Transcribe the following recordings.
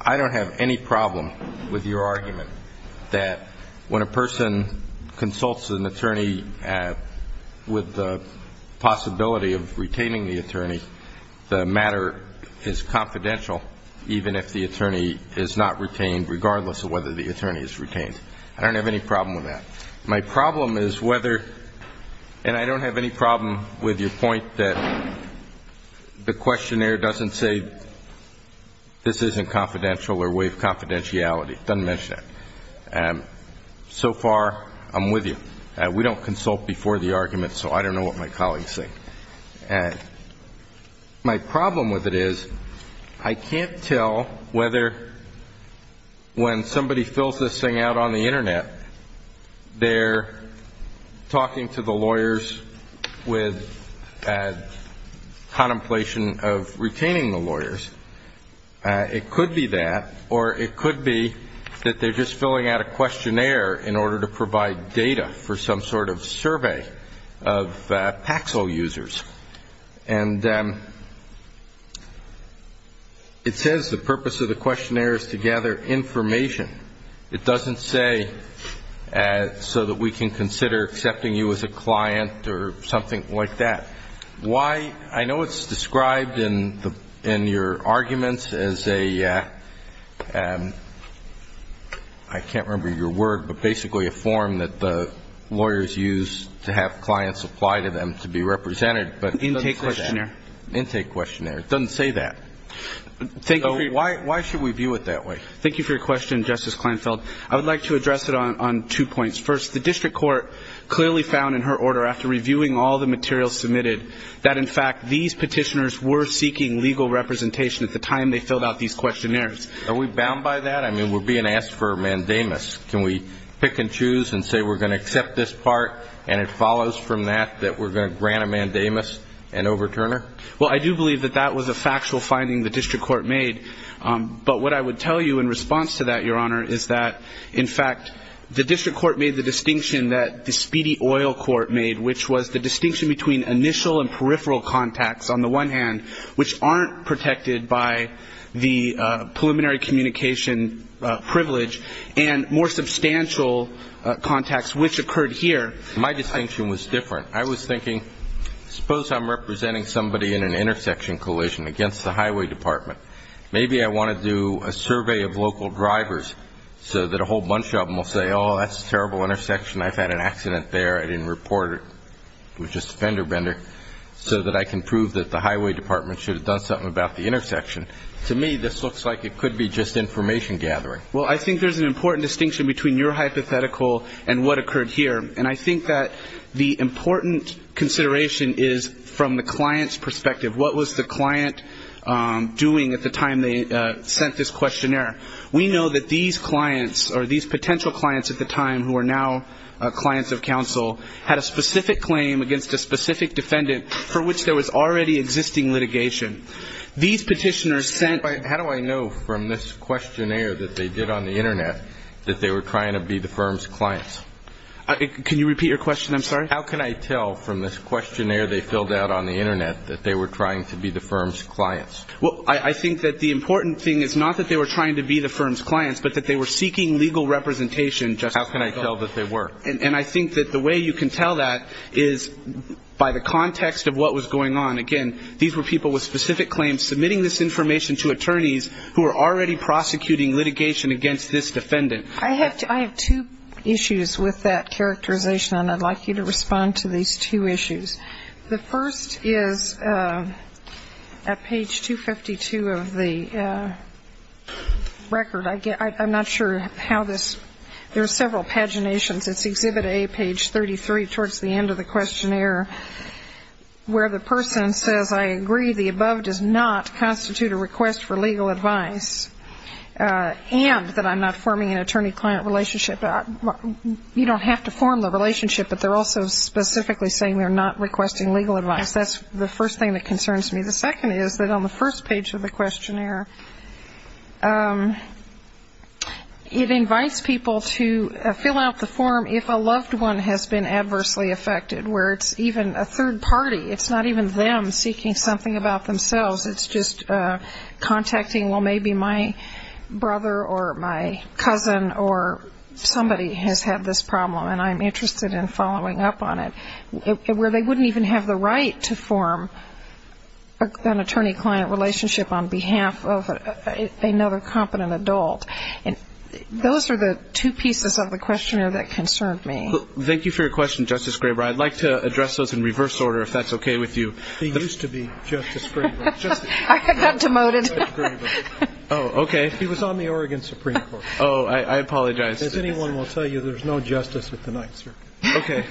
I don't have any problem with your argument that when a person consults an attorney with the possibility of retaining the attorney, the matter is confidential even if the attorney is not retained regardless of whether the attorney is retained. I don't have any problem with that. My problem is whether, and I don't have any problem with your point that the matter is confidential or a way of confidentiality. It doesn't mention that. So far, I'm with you. We don't consult before the argument, so I don't know what my colleagues think. My problem with it is I can't tell whether when somebody fills this thing out on the Internet, they're talking to the lawyers with contemplation of retaining the lawyers. It could be that or it could be that they're just filling out a questionnaire in order to provide data for some sort of survey of Paxil users. And it says the purpose of the questionnaire is to gather information. It doesn't say so that we can consider accepting you as a client or something like that. Why? I know it's described in your arguments as a, I can't remember your word, but basically a form that the lawyers use to have clients apply to them to be represented, but it doesn't say that. Intake questionnaire. Intake questionnaire. It doesn't say that. So why should we view it that way? Thank you for your question, Justice Kleinfeld. I would like to address it on two points. First, the district court clearly found in her order after reviewing all the materials submitted that, in fact, these petitioners were seeking legal representation at the time they filled out these questionnaires. Are we bound by that? I mean, we're being asked for a mandamus. Can we pick and choose and say we're going to accept this part and it follows from that that we're going to grant a mandamus and overturn her? Well, I do believe that that was a factual finding the district court made. But what I would tell you in response to that, Your Honor, is that, in fact, the district court made the distinction that the speedy oil court made, which was the distinction between initial and peripheral contacts, on the one hand, which aren't protected by the preliminary communication privilege, and more substantial contacts, which occurred here. My distinction was different. I was thinking, suppose I'm representing somebody in an intersection collision against the highway department. Maybe I want to do a survey of local drivers so that a whole bunch of them will say, oh, that's a terrible intersection. I've had an accident there. I didn't report it. It was just a fender bender, so that I can prove that the highway department should have done something about the intersection. To me, this looks like it could be just information gathering. Well, I think there's an important distinction between your hypothetical and what occurred here. And I think that the important consideration is from the client's perspective. What was the client doing at the time they sent this questionnaire? We know that these clients or these potential clients at the time, who are now clients of counsel, had a specific claim against a specific defendant for which there was already existing litigation. These petitioners sent How do I know from this questionnaire that they did on the Internet that they were trying to be the firm's clients? Can you repeat your question? I'm sorry. How can I tell from this questionnaire they filled out on the Internet that they were trying to be the firm's clients? Well, I think that the important thing is not that they were trying to be the firm's clients, but that they were seeking legal representation just as a result. How can I tell that they were? And I think that the way you can tell that is by the context of what was going on. Again, these were people with specific claims submitting this information to attorneys who were already prosecuting litigation against this defendant. I have two issues with that characterization, and I'd like you to respond to these two issues. The first is at page 252 of the record. I'm not sure how this ‑‑ there are several paginations. It's Exhibit A, page 33, towards the end of the questionnaire, where the person says, I agree, the above does not constitute a request for legal advice, and that I'm not forming an attorney-client relationship. You don't have to form the relationship, but they're also specifically saying they're not requesting legal advice. That's the first thing that concerns me. The second is that on the first page of the questionnaire, it invites people to fill out the form if a loved one has been adversely affected, where it's even a third party. It's not even them seeking something about themselves. It's just contacting, well, maybe my brother or my cousin or somebody has had this problem, and I'm interested in following up on it. Where they wouldn't even have the right to form an attorney-client relationship on behalf of another competent adult. Those are the two pieces of the questionnaire that concern me. Thank you for your question, Justice Graber. I'd like to address those in reverse order, if that's okay with you. He used to be Justice Graber. I got demoted. Oh, okay. He was on the Oregon Supreme Court. Oh, I apologize. As anyone will tell you, there's no justice with the night circuit. Okay.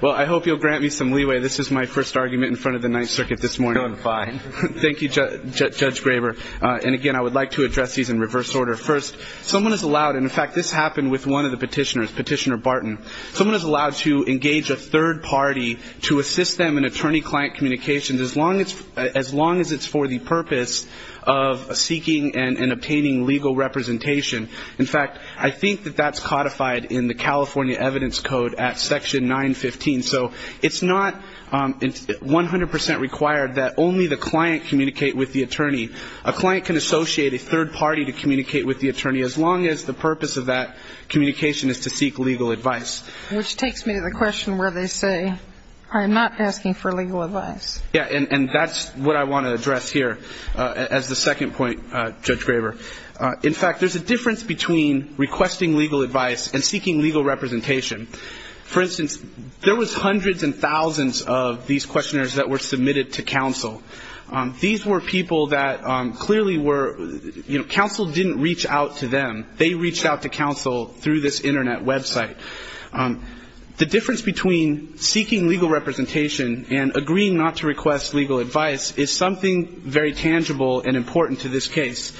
Well, I hope you'll grant me some leeway. This is my first argument in front of the night circuit this morning. No, I'm fine. Thank you, Judge Graber. And again, I would like to address these in reverse order. First, someone is allowed, and in fact, this happened with one of the petitioners, Petitioner Barton. Someone is allowed to engage a third party to assist them in attorney-client communications, as long as it's for the purpose of seeking and obtaining legal representation. In fact, I think that that's codified in the California Evidence Code at Section 915. So it's not 100% required that only the client communicate with the attorney. A client can associate a third party to communicate with the attorney, as long as the purpose of that communication is to seek legal advice. Which takes me to the question where they say, I'm not asking for legal advice. Yeah, and that's what I want to address here as the second point, Judge Graber. In fact, there's a difference between requesting legal advice and seeking legal representation. For instance, there was hundreds and thousands of these questioners that were submitted to counsel. These were people that clearly were, you know, counsel didn't reach out to them. They reached out to counsel through this Internet website. The difference between seeking legal representation and agreeing not to request legal advice is something very tangible and important to this case.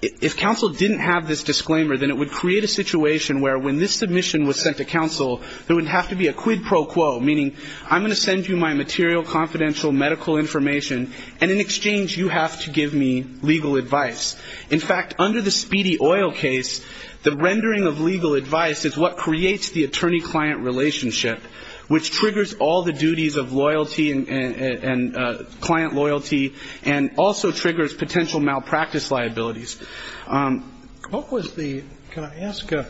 If counsel didn't have this disclaimer, then it would create a situation where when this submission was sent to counsel, there would have to be a quid pro quo, meaning I'm going to send you my material, confidential medical information, and in exchange you have to give me legal advice. In fact, under the Speedy Oil case, the rendering of legal advice is what creates the attorney-client relationship, which triggers all the duties of loyalty and client loyalty and also triggers potential malpractice liabilities. What was the, can I ask, you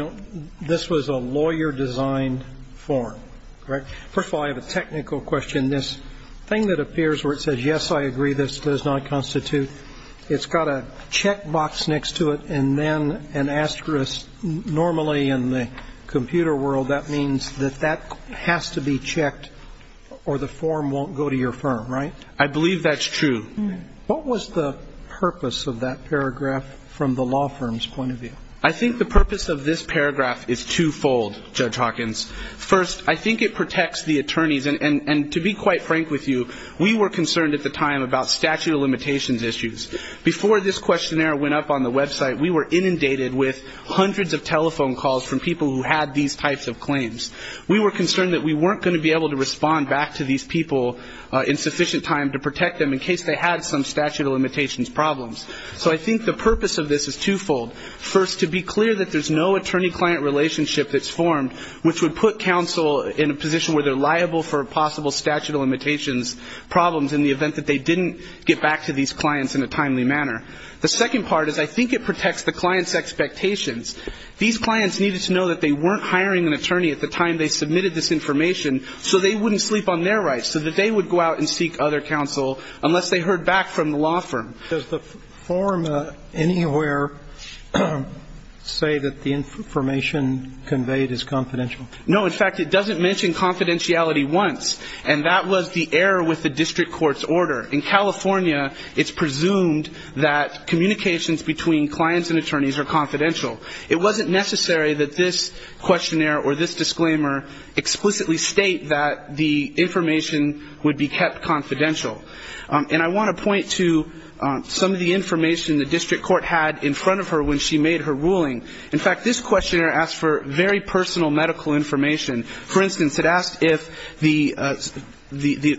know, this was a lawyer-designed form, correct? First of all, I have a technical question. This thing that appears where it says, yes, I agree, this does not constitute, it's got a checkbox next to it and then an asterisk. Normally in the computer world, that means that that has to be checked or the form won't go to your firm, right? I believe that's true. What was the purpose of that paragraph from the law firm's point of view? I think the purpose of this paragraph is twofold, Judge Hawkins. First, I think it protects the attorneys, and to be quite frank with you, we were concerned at the time about statute of limitations issues. Before this questionnaire went up on the website, we were inundated with hundreds of telephone calls from people who had these types of claims. We were concerned that we weren't going to be able to respond back to these people in sufficient time to protect them in case they had some statute of limitations problems. So I think the purpose of this is twofold. First, to be clear that there's no attorney-client relationship that's formed, which would put counsel in a position where they're liable for possible statute of limitations problems in the timely manner. The second part is I think it protects the client's expectations. These clients needed to know that they weren't hiring an attorney at the time they submitted this information so they wouldn't sleep on their rights, so that they would go out and seek other counsel unless they heard back from the law firm. Does the form anywhere say that the information conveyed is confidential? No. In fact, it doesn't mention confidentiality once, and that was the error with the district court's order. In California, it's presumed that communications between clients and attorneys are confidential. It wasn't necessary that this questionnaire or this disclaimer explicitly state that the information would be kept confidential. And I want to point to some of the information the district court had in front of her when she made her ruling. In fact, this questionnaire asked for very personal medical information. For instance, it asked if the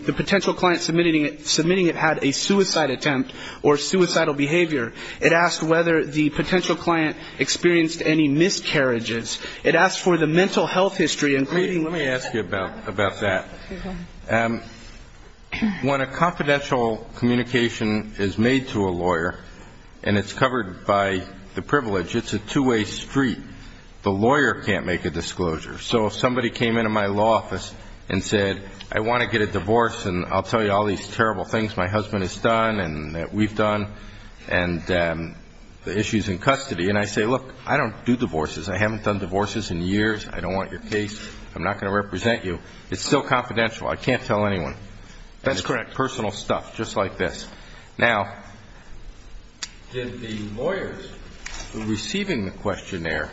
potential client submitting it had a suicide attempt or suicidal behavior. It asked whether the potential client experienced any miscarriages. It asked for the mental health history, including... Let me ask you about that. When a confidential communication is made to a lawyer, and it's covered by the privilege, it's a two-way street. The lawyer can't make a disclosure. So if somebody came into my law office and said, I want to get a divorce, and I'll tell you all these terrible things my husband has done and that we've done, and the issues in custody, and I say, look, I don't do divorces. I haven't done divorces in years. I don't want your case. I'm not going to represent you. It's still confidential. I can't tell anyone. That's correct. Personal stuff, just like this. Now, did the lawyers receiving the questionnaire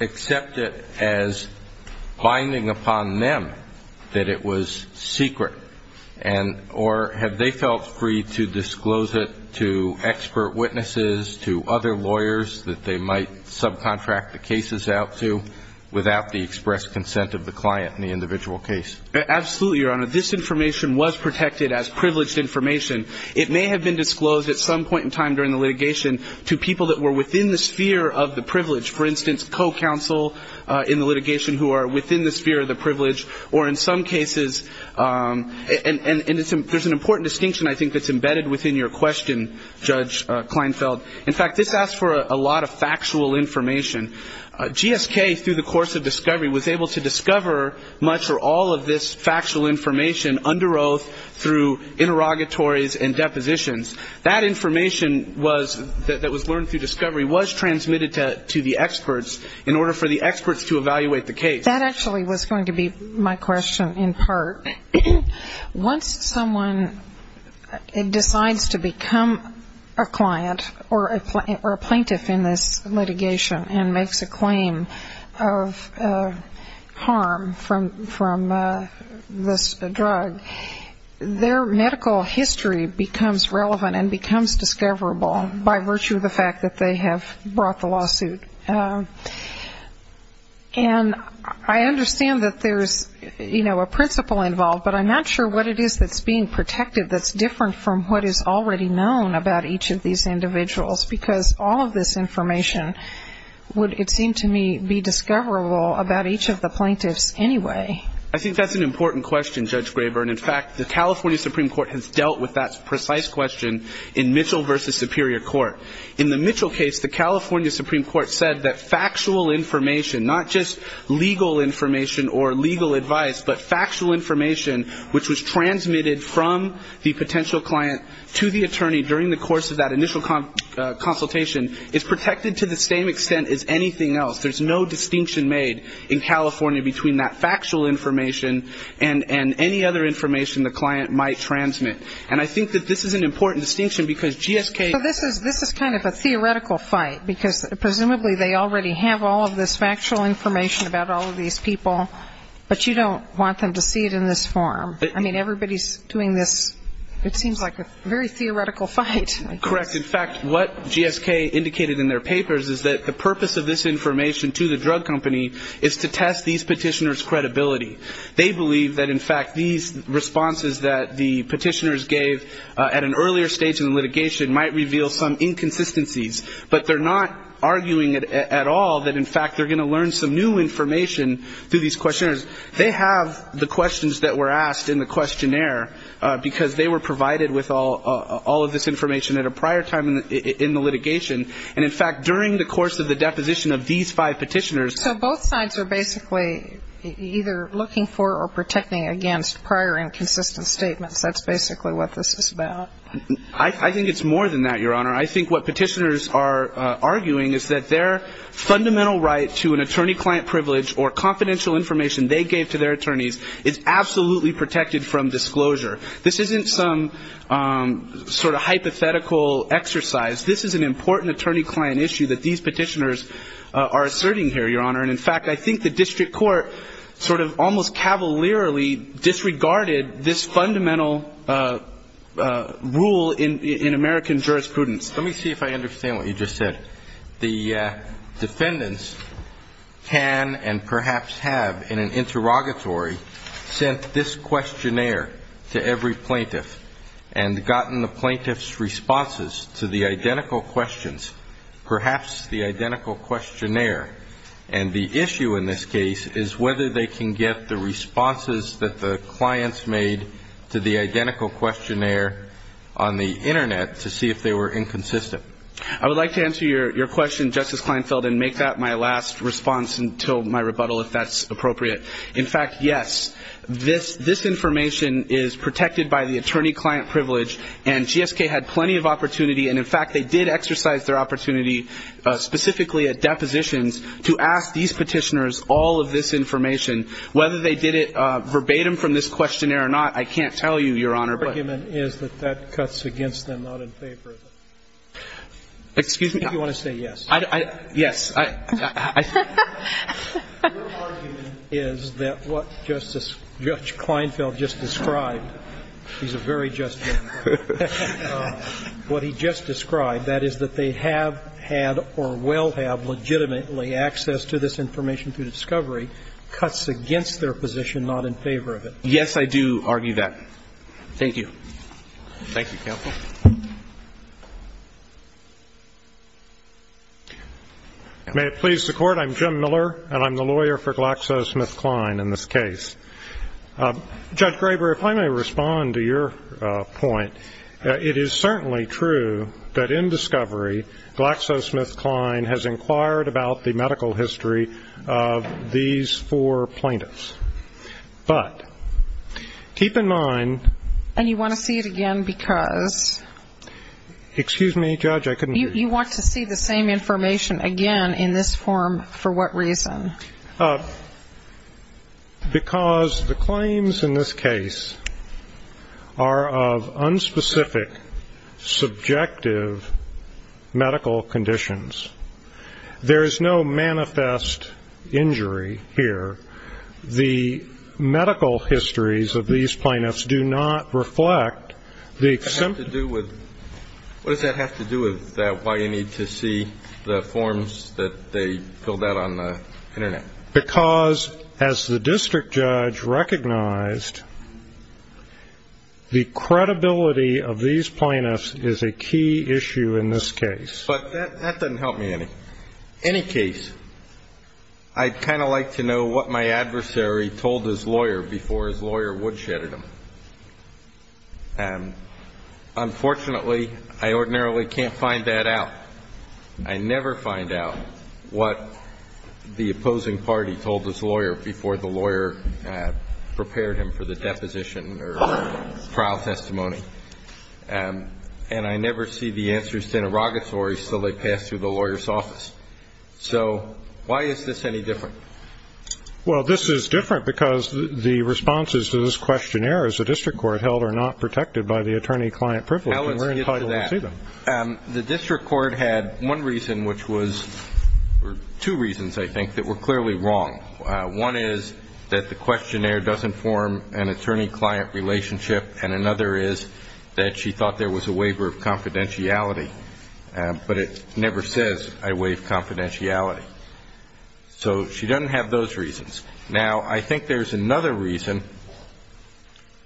accept it as binding upon them that it was secret? Or have they felt free to disclose it to expert witnesses, to other lawyers that they might subcontract the cases out to without the express consent of the client in the individual case? Absolutely, Your Honor. This information was protected as privileged information. It may have been disclosed at some point in time during the litigation to people that were within the sphere of the privilege. For instance, co-counsel in the litigation who are within the sphere of the privilege, or in some cases, and there's an important distinction, I think, that's embedded within your question, Judge Kleinfeld. In fact, this asks for a lot of factual information. GSK, through the course of discovery, was able to discover much or all of this factual information under oath through interrogatories and depositions. That information that was learned through discovery was transmitted to the experts in order for the experts to evaluate the case. That actually was going to be my question in part. Once someone decides to become a client or a plaintiff in this litigation and makes a decision to purchase a drug, their medical history becomes relevant and becomes discoverable by virtue of the fact that they have brought the lawsuit. And I understand that there's, you know, a principle involved, but I'm not sure what it is that's being protected that's different from what is already known about each of these individuals, because all of this information would, it seemed to me, be discoverable about each of the plaintiffs anyway. I think that's an important question, Judge Graber. And in fact, the California Supreme Court has dealt with that precise question in Mitchell v. Superior Court. In the Mitchell case, the California Supreme Court said that factual information, not just legal information or legal advice, but factual information, which was transmitted from the potential client to the attorney during the course of that initial consultation, is protected to the same extent as anything else. There's no distinction made in California between that factual information and any other information the client might transmit. And I think that this is an important distinction, because GSK ---- So this is kind of a theoretical fight, because presumably they already have all of this factual information about all of these people, but you don't want them to see it in this form. I mean, everybody's doing this. It seems like a very theoretical fight. Correct. In fact, what GSK indicated in their papers is that the purpose of this information to the drug company is to test these petitioners' credibility. They believe that, in fact, these responses that the petitioners gave at an earlier stage in the litigation might reveal some inconsistencies. But they're not arguing at all that, in fact, they're going to learn some new information through these questionnaires. They have the questions that were asked in the questionnaire, because they were provided with all of this information at a prior time in the litigation. And, in fact, during the course of the deposition of these five petitioners ---- So both sides are basically either looking for or protecting against prior inconsistent statements. That's basically what this is about. I think it's more than that, Your Honor. I think what petitioners are arguing is that their fundamental right to an attorney-client privilege or confidential information they gave to their attorneys is absolutely protected from disclosure. This isn't some sort of hypothetical exercise. This is an important attorney-client issue that these petitioners are asserting here, Your Honor. And, in fact, I think the district court sort of almost cavalierly disregarded this fundamental rule in American jurisprudence. Let me see if I understand what you just said. The defendants can and perhaps have, in an interrogatory, sent this questionnaire to every plaintiff and gotten the plaintiff's responses to the identical questions, perhaps the identical questionnaire. And the issue in this case is whether they can get the responses that the clients made to the identical questionnaire on the Internet to see if they were inconsistent. I would like to answer your question, Justice Kleinfeld, and make that my last response until my rebuttal, if that's appropriate. In fact, yes, this information is protected by the attorney-client privilege, and GSK had plenty of opportunity, and, in fact, they did exercise their opportunity specifically at depositions to ask these petitioners all of this information. Whether they did it verbatim from this questionnaire or not, I can't tell you, Your Honor. Your argument is that that cuts against them, not in favor of them. Excuse me? I think you want to say yes. Yes. Your argument is that what Justice Kleinfeld just described, he's a very just man, what he just described, that is that they have had or will have legitimately access to this information through discovery, cuts against their position, not in favor of it. Yes, I do argue that. Thank you. Thank you, Counsel. May it please the Court, I'm Jim Miller, and I'm the lawyer for GlaxoSmithKline in this case. Judge Graber, if I may respond to your point, it is certainly true that in discovery, GlaxoSmithKline has inquired about the medical history of these four plaintiffs, but keep in mind And you want to see it again because? Excuse me, Judge, I couldn't hear you. You want to see the same information again in this form for what reason? Because the claims in this case are of unspecific, subjective medical conditions. There is no manifest injury here. The medical histories of these plaintiffs do not reflect the What does that have to do with why you need to see the forms that they filled out on the internet? Because as the district judge recognized, the credibility of these plaintiffs is a key issue in this case. But that doesn't help me any. In any case, I'd kind of like to know what my adversary told his lawyer before his lawyer woodshedded him. Unfortunately, I ordinarily can't find that out. I never find out what the opposing party told his lawyer before the lawyer prepared him for the deposition or trial testimony. And I never see the answers to interrogatories until they pass through the lawyer's office. So why is this any different? Well, this is different because the responses to this questionnaire as a district court held are not protected by the attorney-client privilege. Now let's get to that. And we're entitled to see them. The district court had one reason, which was two reasons, I think, that were clearly wrong. One is that the questionnaire doesn't form an attorney-client relationship. And another is that she thought there was a waiver of confidentiality. But it never says, I waive confidentiality. So she doesn't have those reasons. Now, I think there's another reason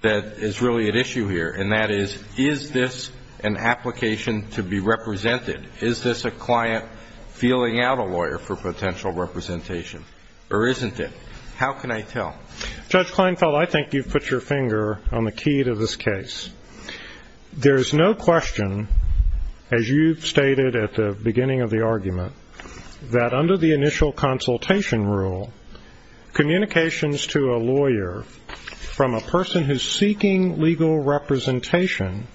that is really at issue here. And that is, is this an application to be represented? Is this a client feeling out a lawyer for potential representation? Or isn't it? How can I tell? Judge Kleinfeld, I think you've put your finger on the key to this case. There's no question, as you've stated at the beginning of the argument, that under the initial consultation rule, communications to a lawyer from a person who's seeking legal representation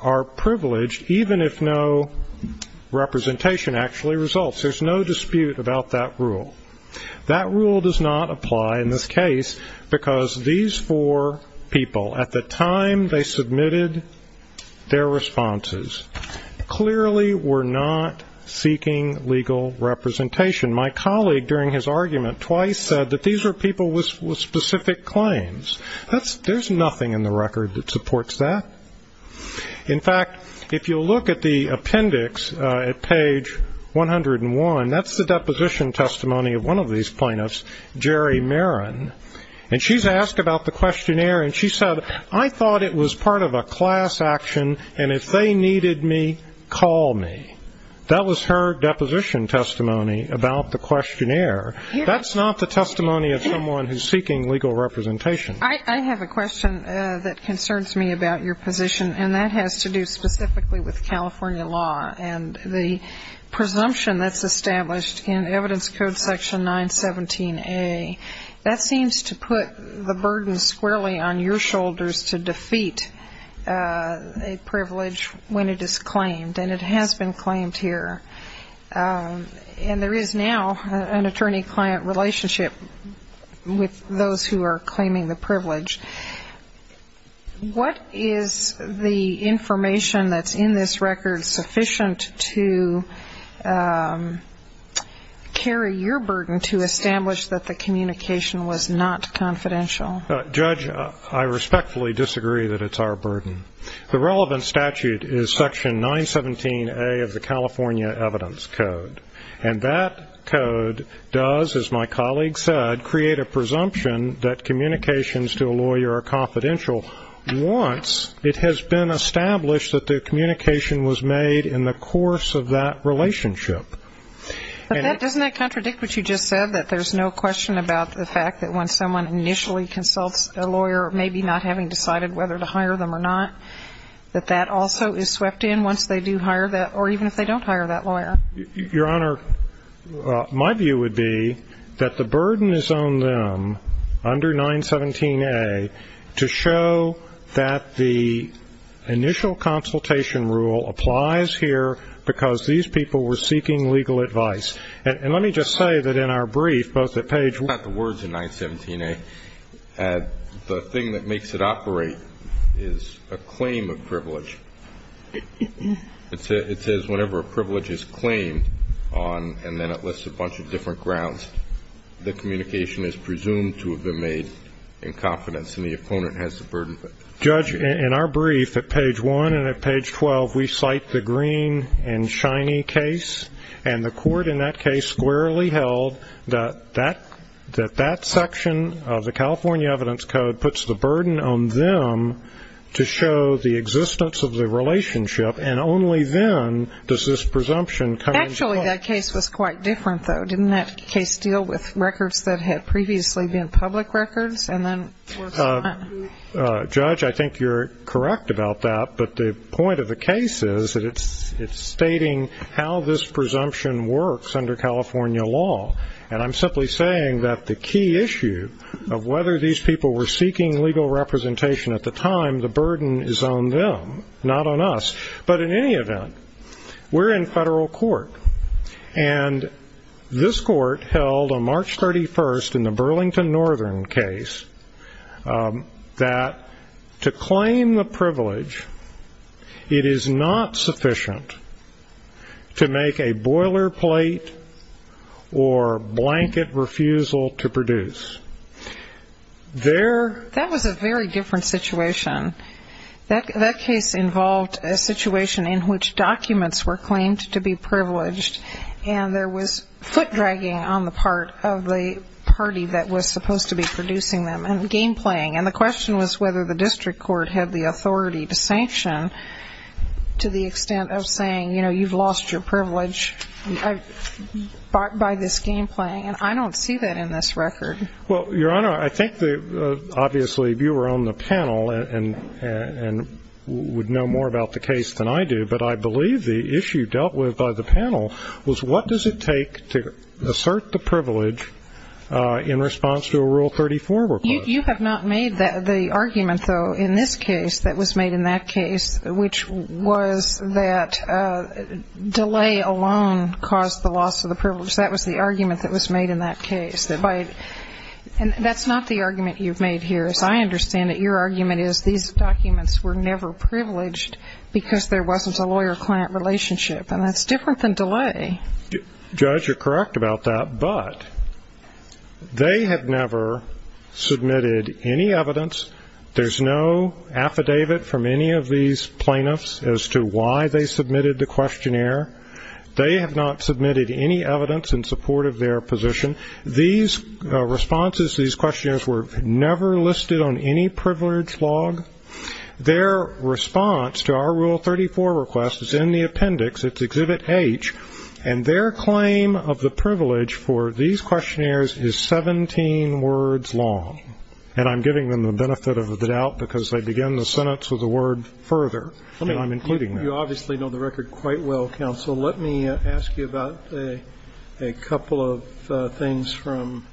are privileged, even if no representation actually results. There's no dispute about that rule. That rule does not apply in this case because these four people, at the time they submitted their responses, clearly were not seeking legal representation. My colleague, during his argument twice, said that these were people with specific claims. There's nothing in the record that supports that. In fact, if you'll look at the appendix at page 101, that's the deposition testimony of one of these plaintiffs, Jerry Marin. And she's asked about the questionnaire, and she said, I thought it was part of a class action, and if they needed me, call me. That was her deposition testimony about the questionnaire. That's not the testimony of someone who's seeking legal representation. I have a question that concerns me about your position, and that has to do specifically with California law. And the presumption that's established in Evidence Code Section 917A, that seems to put the burden squarely on your shoulders to defeat a privilege when it is claimed. And it has been claimed here. And there is now an attorney-client relationship with those who are claiming the privilege. What is the information that's in this record sufficient to carry your burden to establish that the communication was not confidential? Judge, I respectfully disagree that it's our burden. The relevant statute is Section 917A of the California Evidence Code. And that code does, as my colleague said, create a presumption that communications to a lawyer are confidential. Once it has been established that the communication was made in the course of that relationship. But doesn't that contradict what you just said, that there's no question about the fact that when someone initially consults a lawyer, maybe not having decided whether to hire them or not, that that also is swept in once they do hire that, or even if they don't hire that lawyer? Your Honor, my view would be that the burden is on them, under 917A, to show that the initial consultation rule applies here because these people were seeking legal advice. And let me just say that in our brief, both at page- Not the words in 917A. The thing that makes it operate is a claim of privilege. It says whenever a privilege is claimed on, and then it lists a bunch of different grounds, the communication is presumed to have been made in confidence, and the opponent has the burden. Judge, in our brief at page 1 and at page 12, we cite the Greene and Shinie case. And the court in that case squarely held that that section of the California Evidence Code puts the burden on them to show the existence of the relationship, and only then does this presumption come into play. Actually, that case was quite different, though. Didn't that case deal with records that had previously been public records, and then- Judge, I think you're correct about that. But the point of the case is that it's stating how this presumption works under California law. And I'm simply saying that the key issue of whether these people were seeking legal representation at the time, the burden is on them, not on us. But in any event, we're in federal court. And this court held on March 31st in the Burlington Northern case that to claim the privilege, it is not sufficient to make a boilerplate or blanket refusal to produce. That was a very different situation. That case involved a situation in which documents were claimed to be privileged, and there was foot-dragging on the part of the party that was supposed to be producing them, and game-playing. And the question was whether the district court had the authority to sanction to the extent of saying, you know, you've lost your privilege by this game-playing. And I don't see that in this record. Well, Your Honor, I think that, obviously, if you were on the panel and would know more about the case than I do, but I believe the issue dealt with by the panel was what does it take to assert the privilege in response to a Rule 34 request? You have not made the argument, though, in this case that was made in that case, which was that delay alone caused the loss of the privilege. That was the argument that was made in that case. And that's not the argument you've made here. As I understand it, your argument is these documents were never privileged because there wasn't a lawyer-client relationship, and that's different than delay. Judge, you're correct about that, but they have never submitted any evidence. There's no affidavit from any of these plaintiffs as to why they submitted the questionnaire. They have not submitted any evidence in support of their position. These responses to these questionnaires were never listed on any privilege log. Their response to our Rule 34 request is in the appendix. It's Exhibit H. And their claim of the privilege for these questionnaires is 17 words long. And I'm giving them the benefit of the doubt because they begin the sentence with a word further, and I'm including that. You obviously know the record quite well, Counsel. Let me ask you about a couple of things from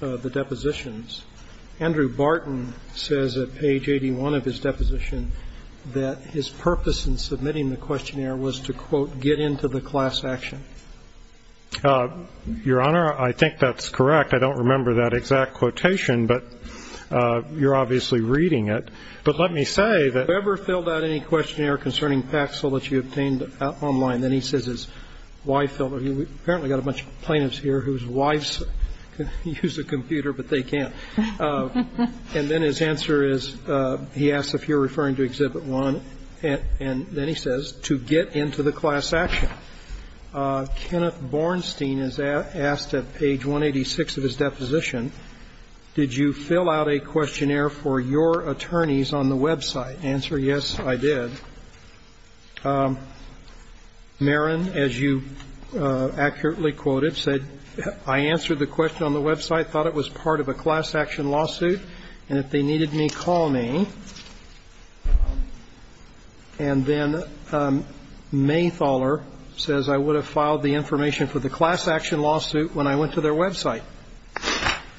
the depositions. Andrew Barton says at page 81 of his deposition that his purpose in submitting the questionnaire was to, quote, get into the class action. Your Honor, I think that's correct. I don't remember that exact quotation, but you're obviously reading it. But let me say that whoever filled out any questionnaire concerning Paxil that you obtained online, then he says his wife filled it. We've apparently got a bunch of plaintiffs here whose wives use a computer, but they can't. And then his answer is, he asks if you're referring to Exhibit I, and then he says, to get into the class action. Kenneth Bornstein is asked at page 186 of his deposition, did you fill out a questionnaire for your attorneys on the website? Answer, yes, I did. Marin, as you accurately quoted, said, I answered the question on the website, thought it was part of a class action lawsuit, and if they needed me, call me. And then Maythaller says I would have filed the information for the class action lawsuit when I went to their website.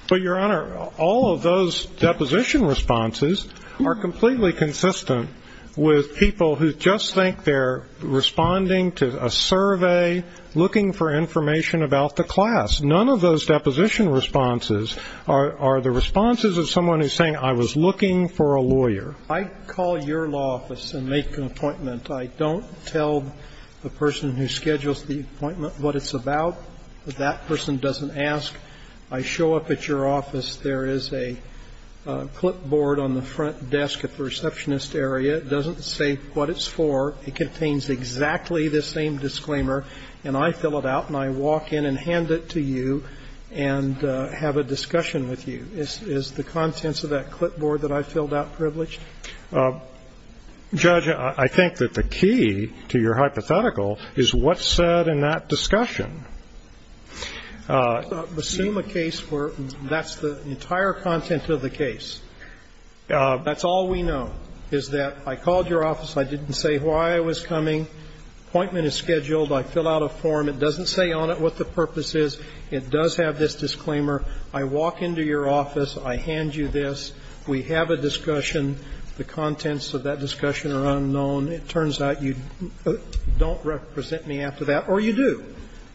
Well, Your Honor, all of those deposition responses are completely consistent with people who just think they're responding to a survey, looking for information about the class. None of those deposition responses are the responses of someone who's saying, I was looking for a lawyer. I call your law office and make an appointment. I don't tell the person who schedules the appointment what it's about. That person doesn't ask. I show up at your office. There is a clipboard on the front desk at the receptionist area. It doesn't say what it's for. It contains exactly the same disclaimer, and I fill it out and I walk in and hand it to you and have a discussion with you. Is the contents of that clipboard that I filled out privileged? Judge, I think that the key to your hypothetical is what's said in that discussion. Assume a case where that's the entire content of the case. That's all we know, is that I called your office. I didn't say why I was coming. Appointment is scheduled. I fill out a form. It doesn't say on it what the purpose is. It does have this disclaimer. I walk into your office. I hand you this. We have a discussion. The contents of that discussion are unknown. It turns out you don't represent me after that, or you do.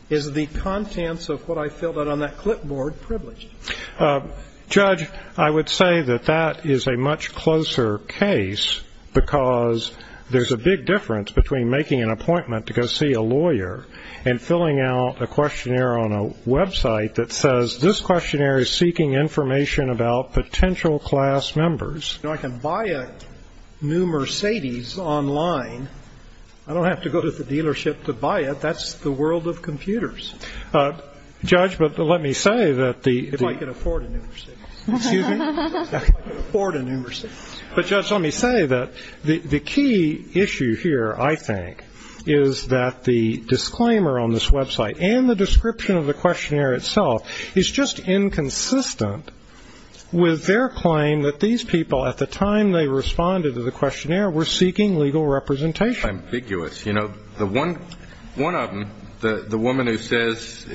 Is the contents of what I filled out on that clipboard privileged? Judge, I would say that that is a much closer case because there's a big difference between making an appointment to go see a lawyer and filling out a questionnaire on a website that says this questionnaire is seeking information about potential class members. I can buy a new Mercedes online. I don't have to go to the dealership to buy it. That's the world of computers. Judge, but let me say that the If I could afford a new Mercedes. Excuse me? If I could afford a new Mercedes. But, Judge, let me say that the key issue here, I think, is that the disclaimer on this website and the description of the questionnaire itself is just inconsistent with their claim that these people, at the time they responded to the questionnaire, were seeking legal representation. Ambiguous. You know, one of them, the woman who says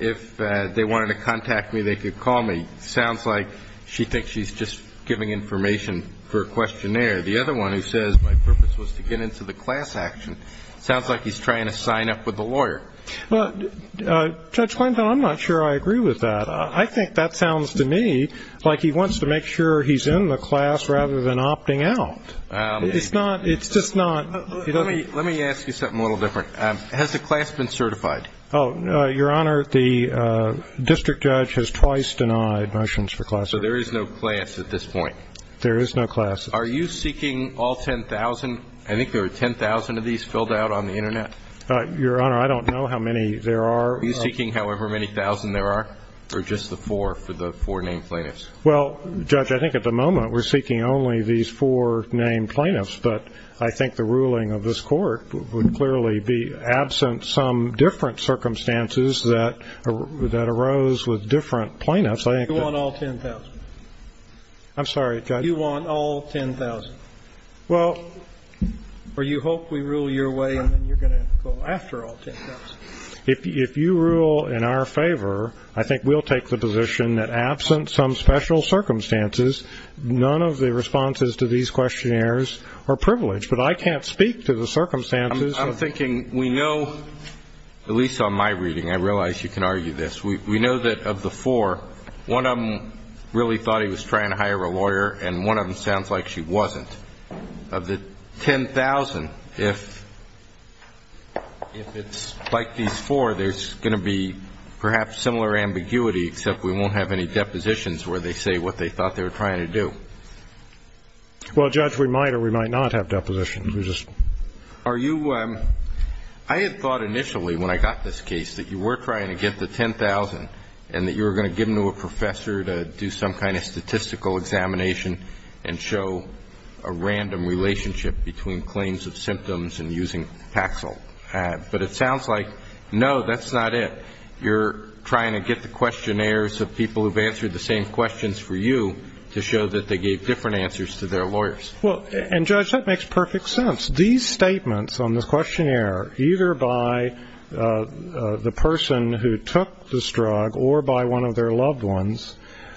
if they wanted to contact me, they could call me, sounds like she thinks she's just giving information for a questionnaire. The other one who says my purpose was to get into the class action sounds like he's trying to sign up with a lawyer. Judge, I'm not sure I agree with that. I think that sounds to me like he wants to make sure he's in the class rather than opting out. It's not. It's just not. Let me ask you something a little different. Has the class been certified? Your Honor, the district judge has twice denied motions for class. So there is no class at this point? There is no class. Are you seeking all 10,000? I think there were 10,000 of these filled out on the Internet. Your Honor, I don't know how many there are. Are you seeking however many thousand there are or just the four for the four name plaintiffs? Well, Judge, I think at the moment we're seeking only these four name plaintiffs, but I think the ruling of this Court would clearly be absent some different circumstances that arose with different plaintiffs. You want all 10,000? I'm sorry, Judge? You want all 10,000? Well... Or you hope we rule your way and then you're going to go after all 10,000? If you rule in our favor, I think we'll take the position that absent some special circumstances, none of the responses to these questionnaires are privileged. But I can't speak to the circumstances. I'm thinking we know, at least on my reading, I realize you can argue this, we know that of the four, one of them really thought he was trying to hire a lawyer and one of them sounds like she wasn't. Of the 10,000, if it's like these four, there's going to be perhaps similar ambiguity except we won't have any depositions where they say what they thought they were trying to do. Well, Judge, we might or we might not have depositions. Are you... I had thought initially when I got this case that you were trying to get the 10,000 and that you were going to give them to a professor to do some kind of statistical examination and show a random relationship between claims of symptoms and using Paxil. But it sounds like, no, that's not it. You're trying to get the questionnaires of people who've answered the same questions for you to show that they gave different answers to their lawyers. And, Judge, that makes perfect sense. These statements on the questionnaire, either by the person who took this drug or by one of their loved ones,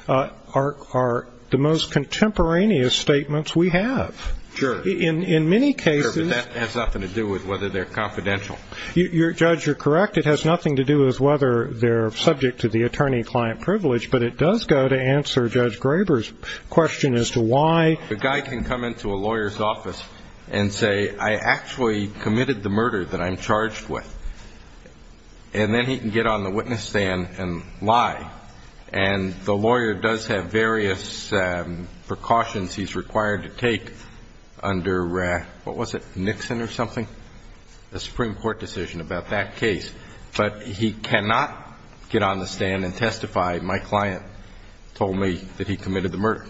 are the most contemporaneous statements we have. Sure. In many cases... Sure, but that has nothing to do with whether they're confidential. Judge, you're correct. It has nothing to do with whether they're subject to the attorney-client privilege, but it does go to answer Judge Graber's question as to why... The guy can come into a lawyer's office and say, I actually committed the murder that I'm charged with. And then he can get on the witness stand and lie. And the lawyer does have various precautions he's required to take under... What was it? Nixon or something? A Supreme Court decision about that case. But he cannot get on the stand and testify, my client told me that he committed the murder.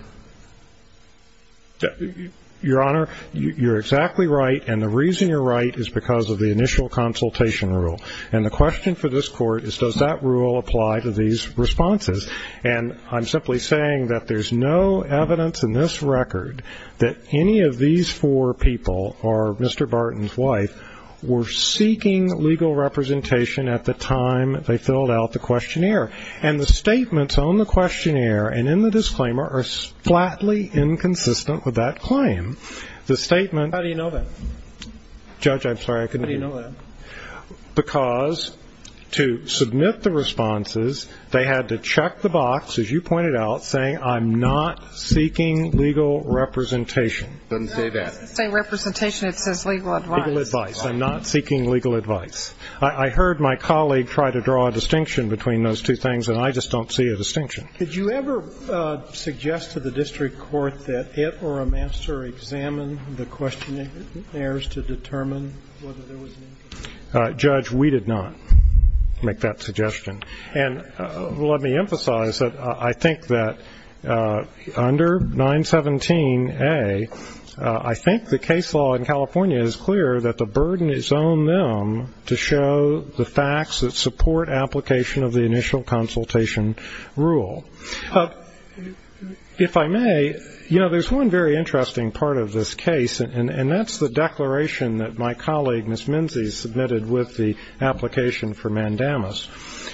Your Honor, you're exactly right. And the reason you're right is because of the initial consultation rule. And the question for this Court is, does that rule apply to these responses? And I'm simply saying that there's no evidence in this record that any of these four people, or Mr. Barton's wife, were seeking legal representation at the time they filled out the questionnaire. And the statements on the questionnaire and in the disclaimer are flatly inconsistent with that claim. The statement... How do you know that? Judge, I'm sorry, I couldn't hear you. How do you know that? Because to submit the responses, they had to check the box, as you pointed out, saying, I'm not seeking legal representation. It doesn't say that. It doesn't say representation, it says legal advice. Legal advice. I'm not seeking legal advice. I heard my colleague try to draw a distinction between those two things, and I just don't see a distinction. Could you ever suggest to the district court that it or a master examine the questionnaires to determine whether there was... Judge, we did not make that suggestion. And let me emphasize that I think that under 917A, I think the case law in California is clear that the burden is on them to show the facts that support application of the initial consultation rule. If I may, you know, there's one very interesting part of this case, and that's the declaration that my colleague, Ms. Menzies, submitted with the application for mandamus.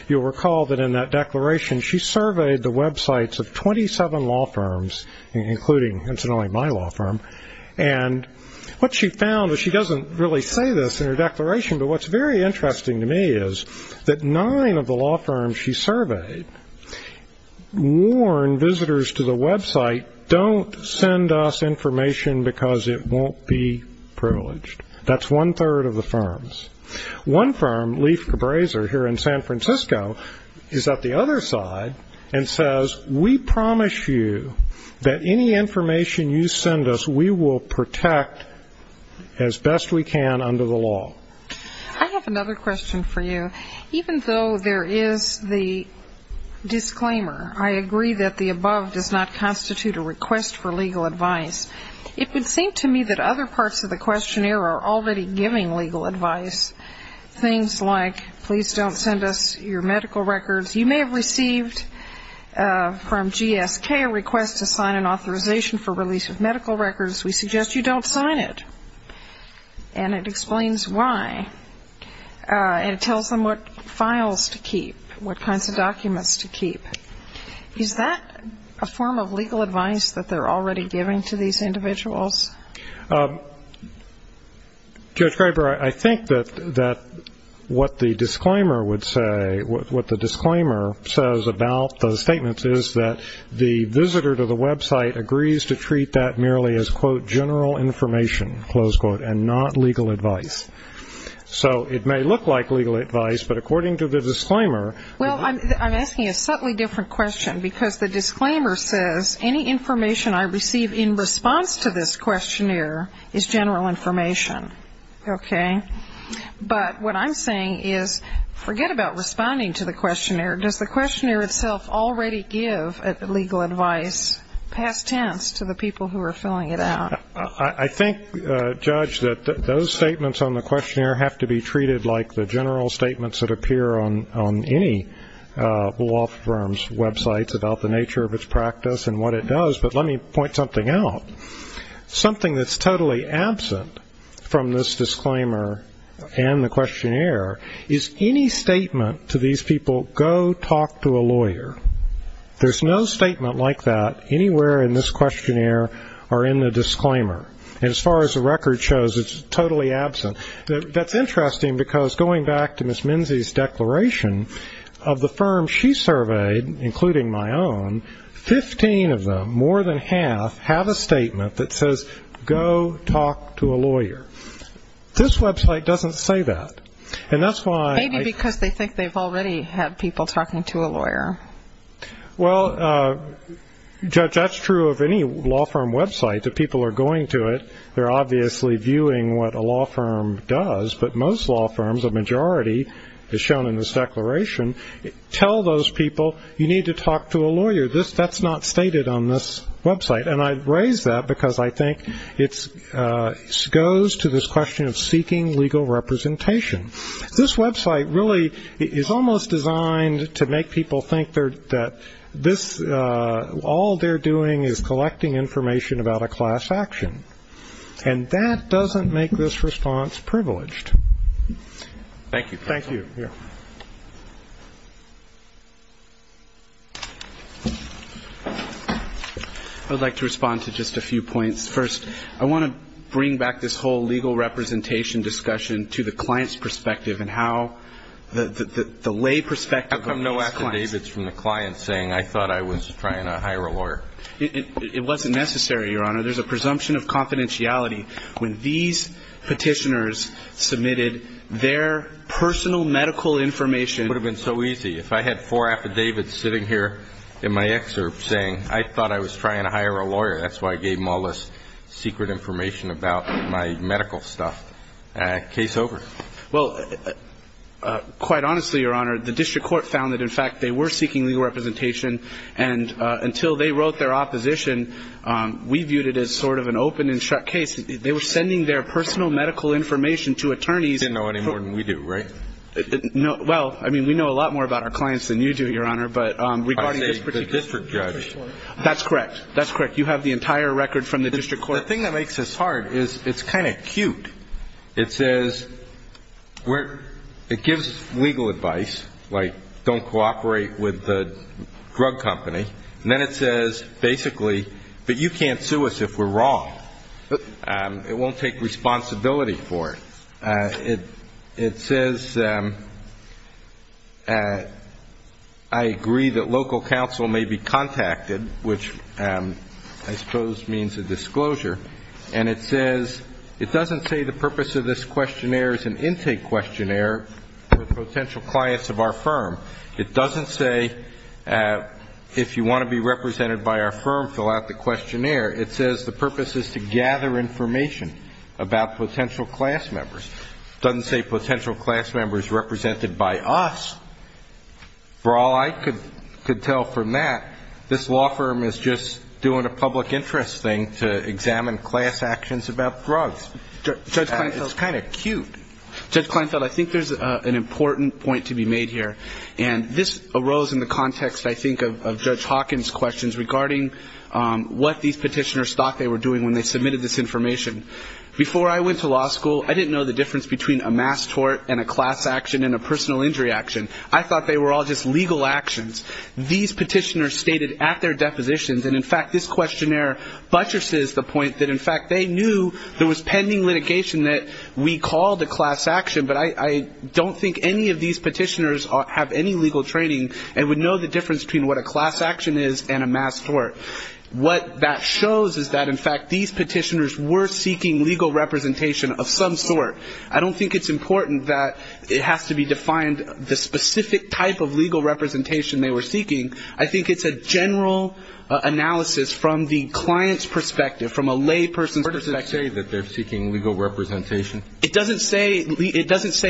You'll recall that in that declaration, she surveyed the websites of 27 law firms, including incidentally my law firm, and what she found is she doesn't really say this in her declaration, but what's very interesting to me is that nine of the law firms she surveyed warned visitors to the website, don't send us information because it won't be privileged. That's one third of the firms. One firm, Leaf Cabraser, here in San Francisco, is at the other side and says, we promise you that any information you send us, we will protect as best we can under the law. I have another question for you. Even though there is the disclaimer, I agree that the above does not constitute a request for legal advice, it would seem to me that other parts of the questionnaire are already giving legal advice. Things like, please don't send us your medical records. You may have received from GSK a request to sign an authorization for release of medical records. We suggest you don't sign it. And it explains why, and it tells them what files to keep, what kinds of documents to keep. Is that a form of legal advice that they're already giving to these individuals? Judge Graber, I think that what the disclaimer would say, what the disclaimer says about those statements is that it's general information, close quote, and not legal advice. So it may look like legal advice, but according to the disclaimer... Well, I'm asking a subtly different question, because the disclaimer says, any information I receive in response to this questionnaire is general information. Okay? But what I'm saying is, forget about responding to the questionnaire. Does the questionnaire itself already give legal advice, past tense, to the people who are filling it out? I think, Judge, that those statements on the questionnaire have to be treated like the general statements that appear on any law firm's websites about the nature of its practice and what it does. But let me point something out. Something that's totally absent from this disclaimer and the questionnaire is any statement to these people, go talk to a lawyer. There's no statement like that anywhere in this questionnaire or in the disclaimer. And as far as the record shows, it's totally absent. That's interesting, because going back to Ms. Minzey's declaration, of the firms she surveyed, including my own, 15 of them, more than half, have a statement that says, go talk to a lawyer. This website doesn't say that. And that's why... Maybe because they think they've already had people talking to a lawyer. Well, Judge, that's true of any law firm website. If people are going to it, they're obviously viewing what a law firm does. But most law firms, a majority, as shown in this declaration, tell those people, you need to talk to a lawyer. That's not stated on this website. And I raise that because I think it goes to this question of seeking legal representation. This website really is almost designed to make people think that all they're doing is collecting information about a class action. And that doesn't make this response privileged. Thank you. I'd like to respond to just a few points. First, I want to bring back this whole legal representation discussion to the client's perspective and how the lay perspective... How come no affidavits from the client saying, I thought I was trying to hire a lawyer? It wasn't necessary, Your Honor. There's a presumption of confidentiality. When these petitioners submitted their personal medical information... It would have been so easy. If I had four affidavits sitting here in my excerpt saying, I thought I was trying to hire a lawyer, that's why I gave them all this secret information about my medical stuff. Case over. Well, quite honestly, Your Honor, the district court found that, in fact, they were seeking legal representation. And until they wrote their opposition, we viewed it as sort of an open and shut case. They were sending their personal medical information to attorneys... They didn't know any more than we do, right? Well, I mean, we know a lot more about our clients than you do, Your Honor. But regarding this particular... I say the district judge. That's correct. That's correct. You have the entire record from the district court. Well, the thing that makes this hard is it's kind of cute. It says... It gives legal advice, like, don't cooperate with the drug company. And then it says, basically, but you can't sue us if we're wrong. It won't take responsibility for it. It says... I agree that local counsel may be contacted, which I suppose means a disclosure. And it says... It doesn't say the purpose of this questionnaire is an intake questionnaire for the potential clients of our firm. It doesn't say, if you want to be represented by our firm, fill out the questionnaire. It says the purpose is to gather information about potential class members. It doesn't say potential class members represented by us. For all I could tell from that, this law firm is just doing a public interest thing to examine class actions about drugs. It's kind of cute. Judge Kleinfeld, I think there's an important point to be made here. And this arose in the context, I think, of Judge Hawkins' questions regarding what these petitioners thought they were doing when they submitted this information. Before I went to law school, I didn't know the difference between a mass tort and a class action and a personal injury action. I thought they were all just legal actions. These petitioners stated at their depositions, and in fact this questionnaire buttresses the point that in fact they knew there was pending litigation that we called a class action, but I don't think any of these petitioners have any legal training and would know the difference between what a class action is and a mass tort. What that shows is that, in fact, these petitioners were seeking legal representation of some sort. I don't think it's important that it has to be defined the specific type of legal representation they were seeking. I think it's a general analysis from the client's perspective, from a lay person's perspective. It doesn't say that they're seeking legal representation? It doesn't say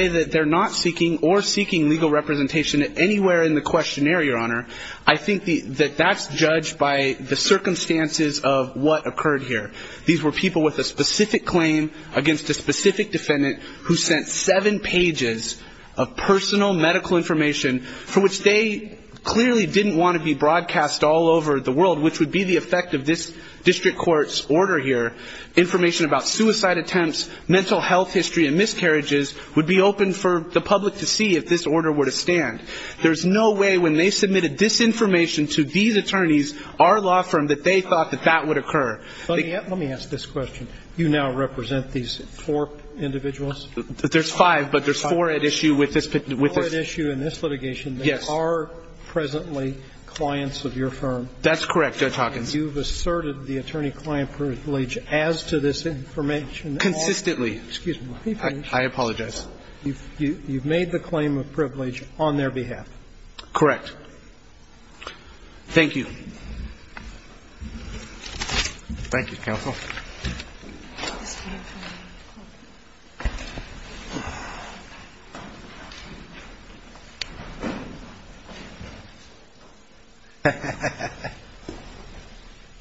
that they're not seeking or seeking legal representation anywhere in the questionnaire, Your Honor. I think that that's judged by the circumstances of what occurred here. These were people with a specific claim against a specific defendant who sent seven pages of personal medical information for which they clearly didn't want to be broadcast all over the world, which would be the effect of this district court's order here. Information about suicide attempts, mental health history, and miscarriages would be open for the public to see if this order were to stand. There's no way when they submitted this information to these attorneys, our law firm, that they thought that that would occur. Let me ask this question. You now represent these four individuals? There's five, but there's four at issue with this... Four at issue in this litigation that are presently clients of your firm. That's correct, Judge Hawkins. You've asserted the attorney-client privilege as to this information. Consistently. You've made the claim of privilege on their behalf. Correct. Thank you. Thank you, counsel.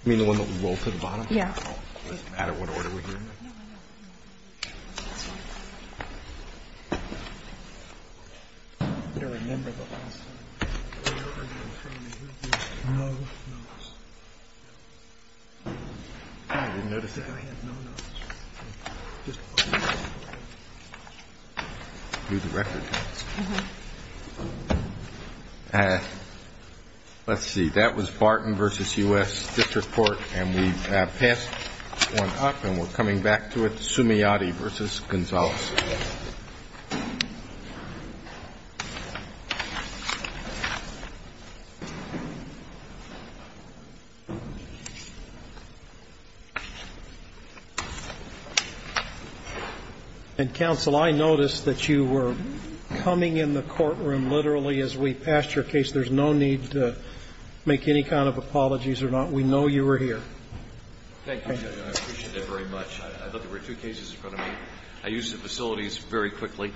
You mean the one that rolled to the bottom? Yeah. Let's see. That was Barton v. U.S. District Court, and we passed one up, and we're coming back to it. Sumiati v. Gonzales. And, counsel, I noticed that you were coming in the courtroom literally as we passed your case. There's no need to make any kind of apologies or not. We know you were here. Thank you, Judge. I appreciate that very much. I thought there were two cases in front of me. I used the facility as an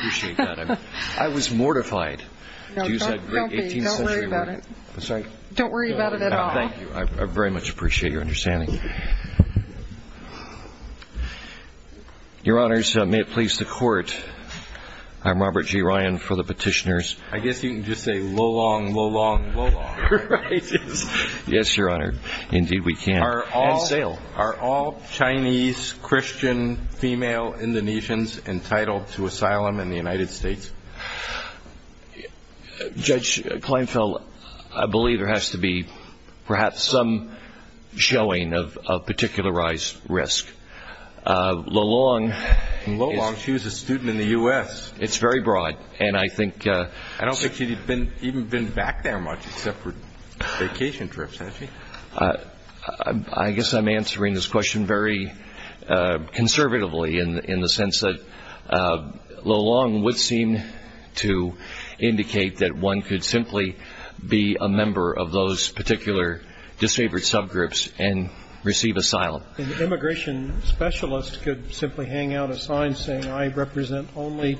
example. I was mortified. Don't worry about it at all. Thank you. I very much appreciate your understanding. Your Honors, may it please the Court. I'm Robert G. Ryan for the petitioners. I guess you can just say, lo-long, lo-long, lo-long. Yes, Your Honor. Are all Chinese, Christian, female Indonesians entitled to asylum in the United States? Judge Kleinfeld, I believe there has to be perhaps some showing of particularized risk. Lo-long... Lo-long, she was a student in the U.S. It's very broad, and I think... I don't think she'd even been back there much except for vacation trips, actually. I guess I'm answering this question very conservatively in the sense that lo-long would seem to indicate that one could simply be a member of those particular disfavored subgroups and receive asylum. An immigration specialist could simply hang out a sign saying I represent only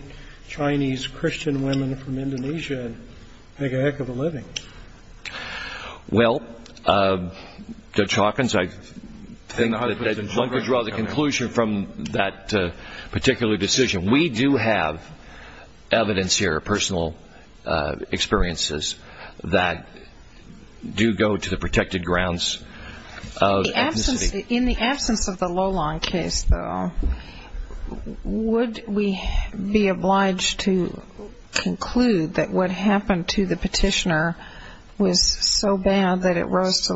Chinese, Christian women from Indonesia and make a heck of a living. Well, Judge Hawkins, I think that one could draw the conclusion from that particular decision. We do have evidence here, personal experiences that do go to the protected grounds of ethnicity. In the absence of the lo-long case, though, would we be obliged to conclude that what happened to the petitioner was so bad that it rose to...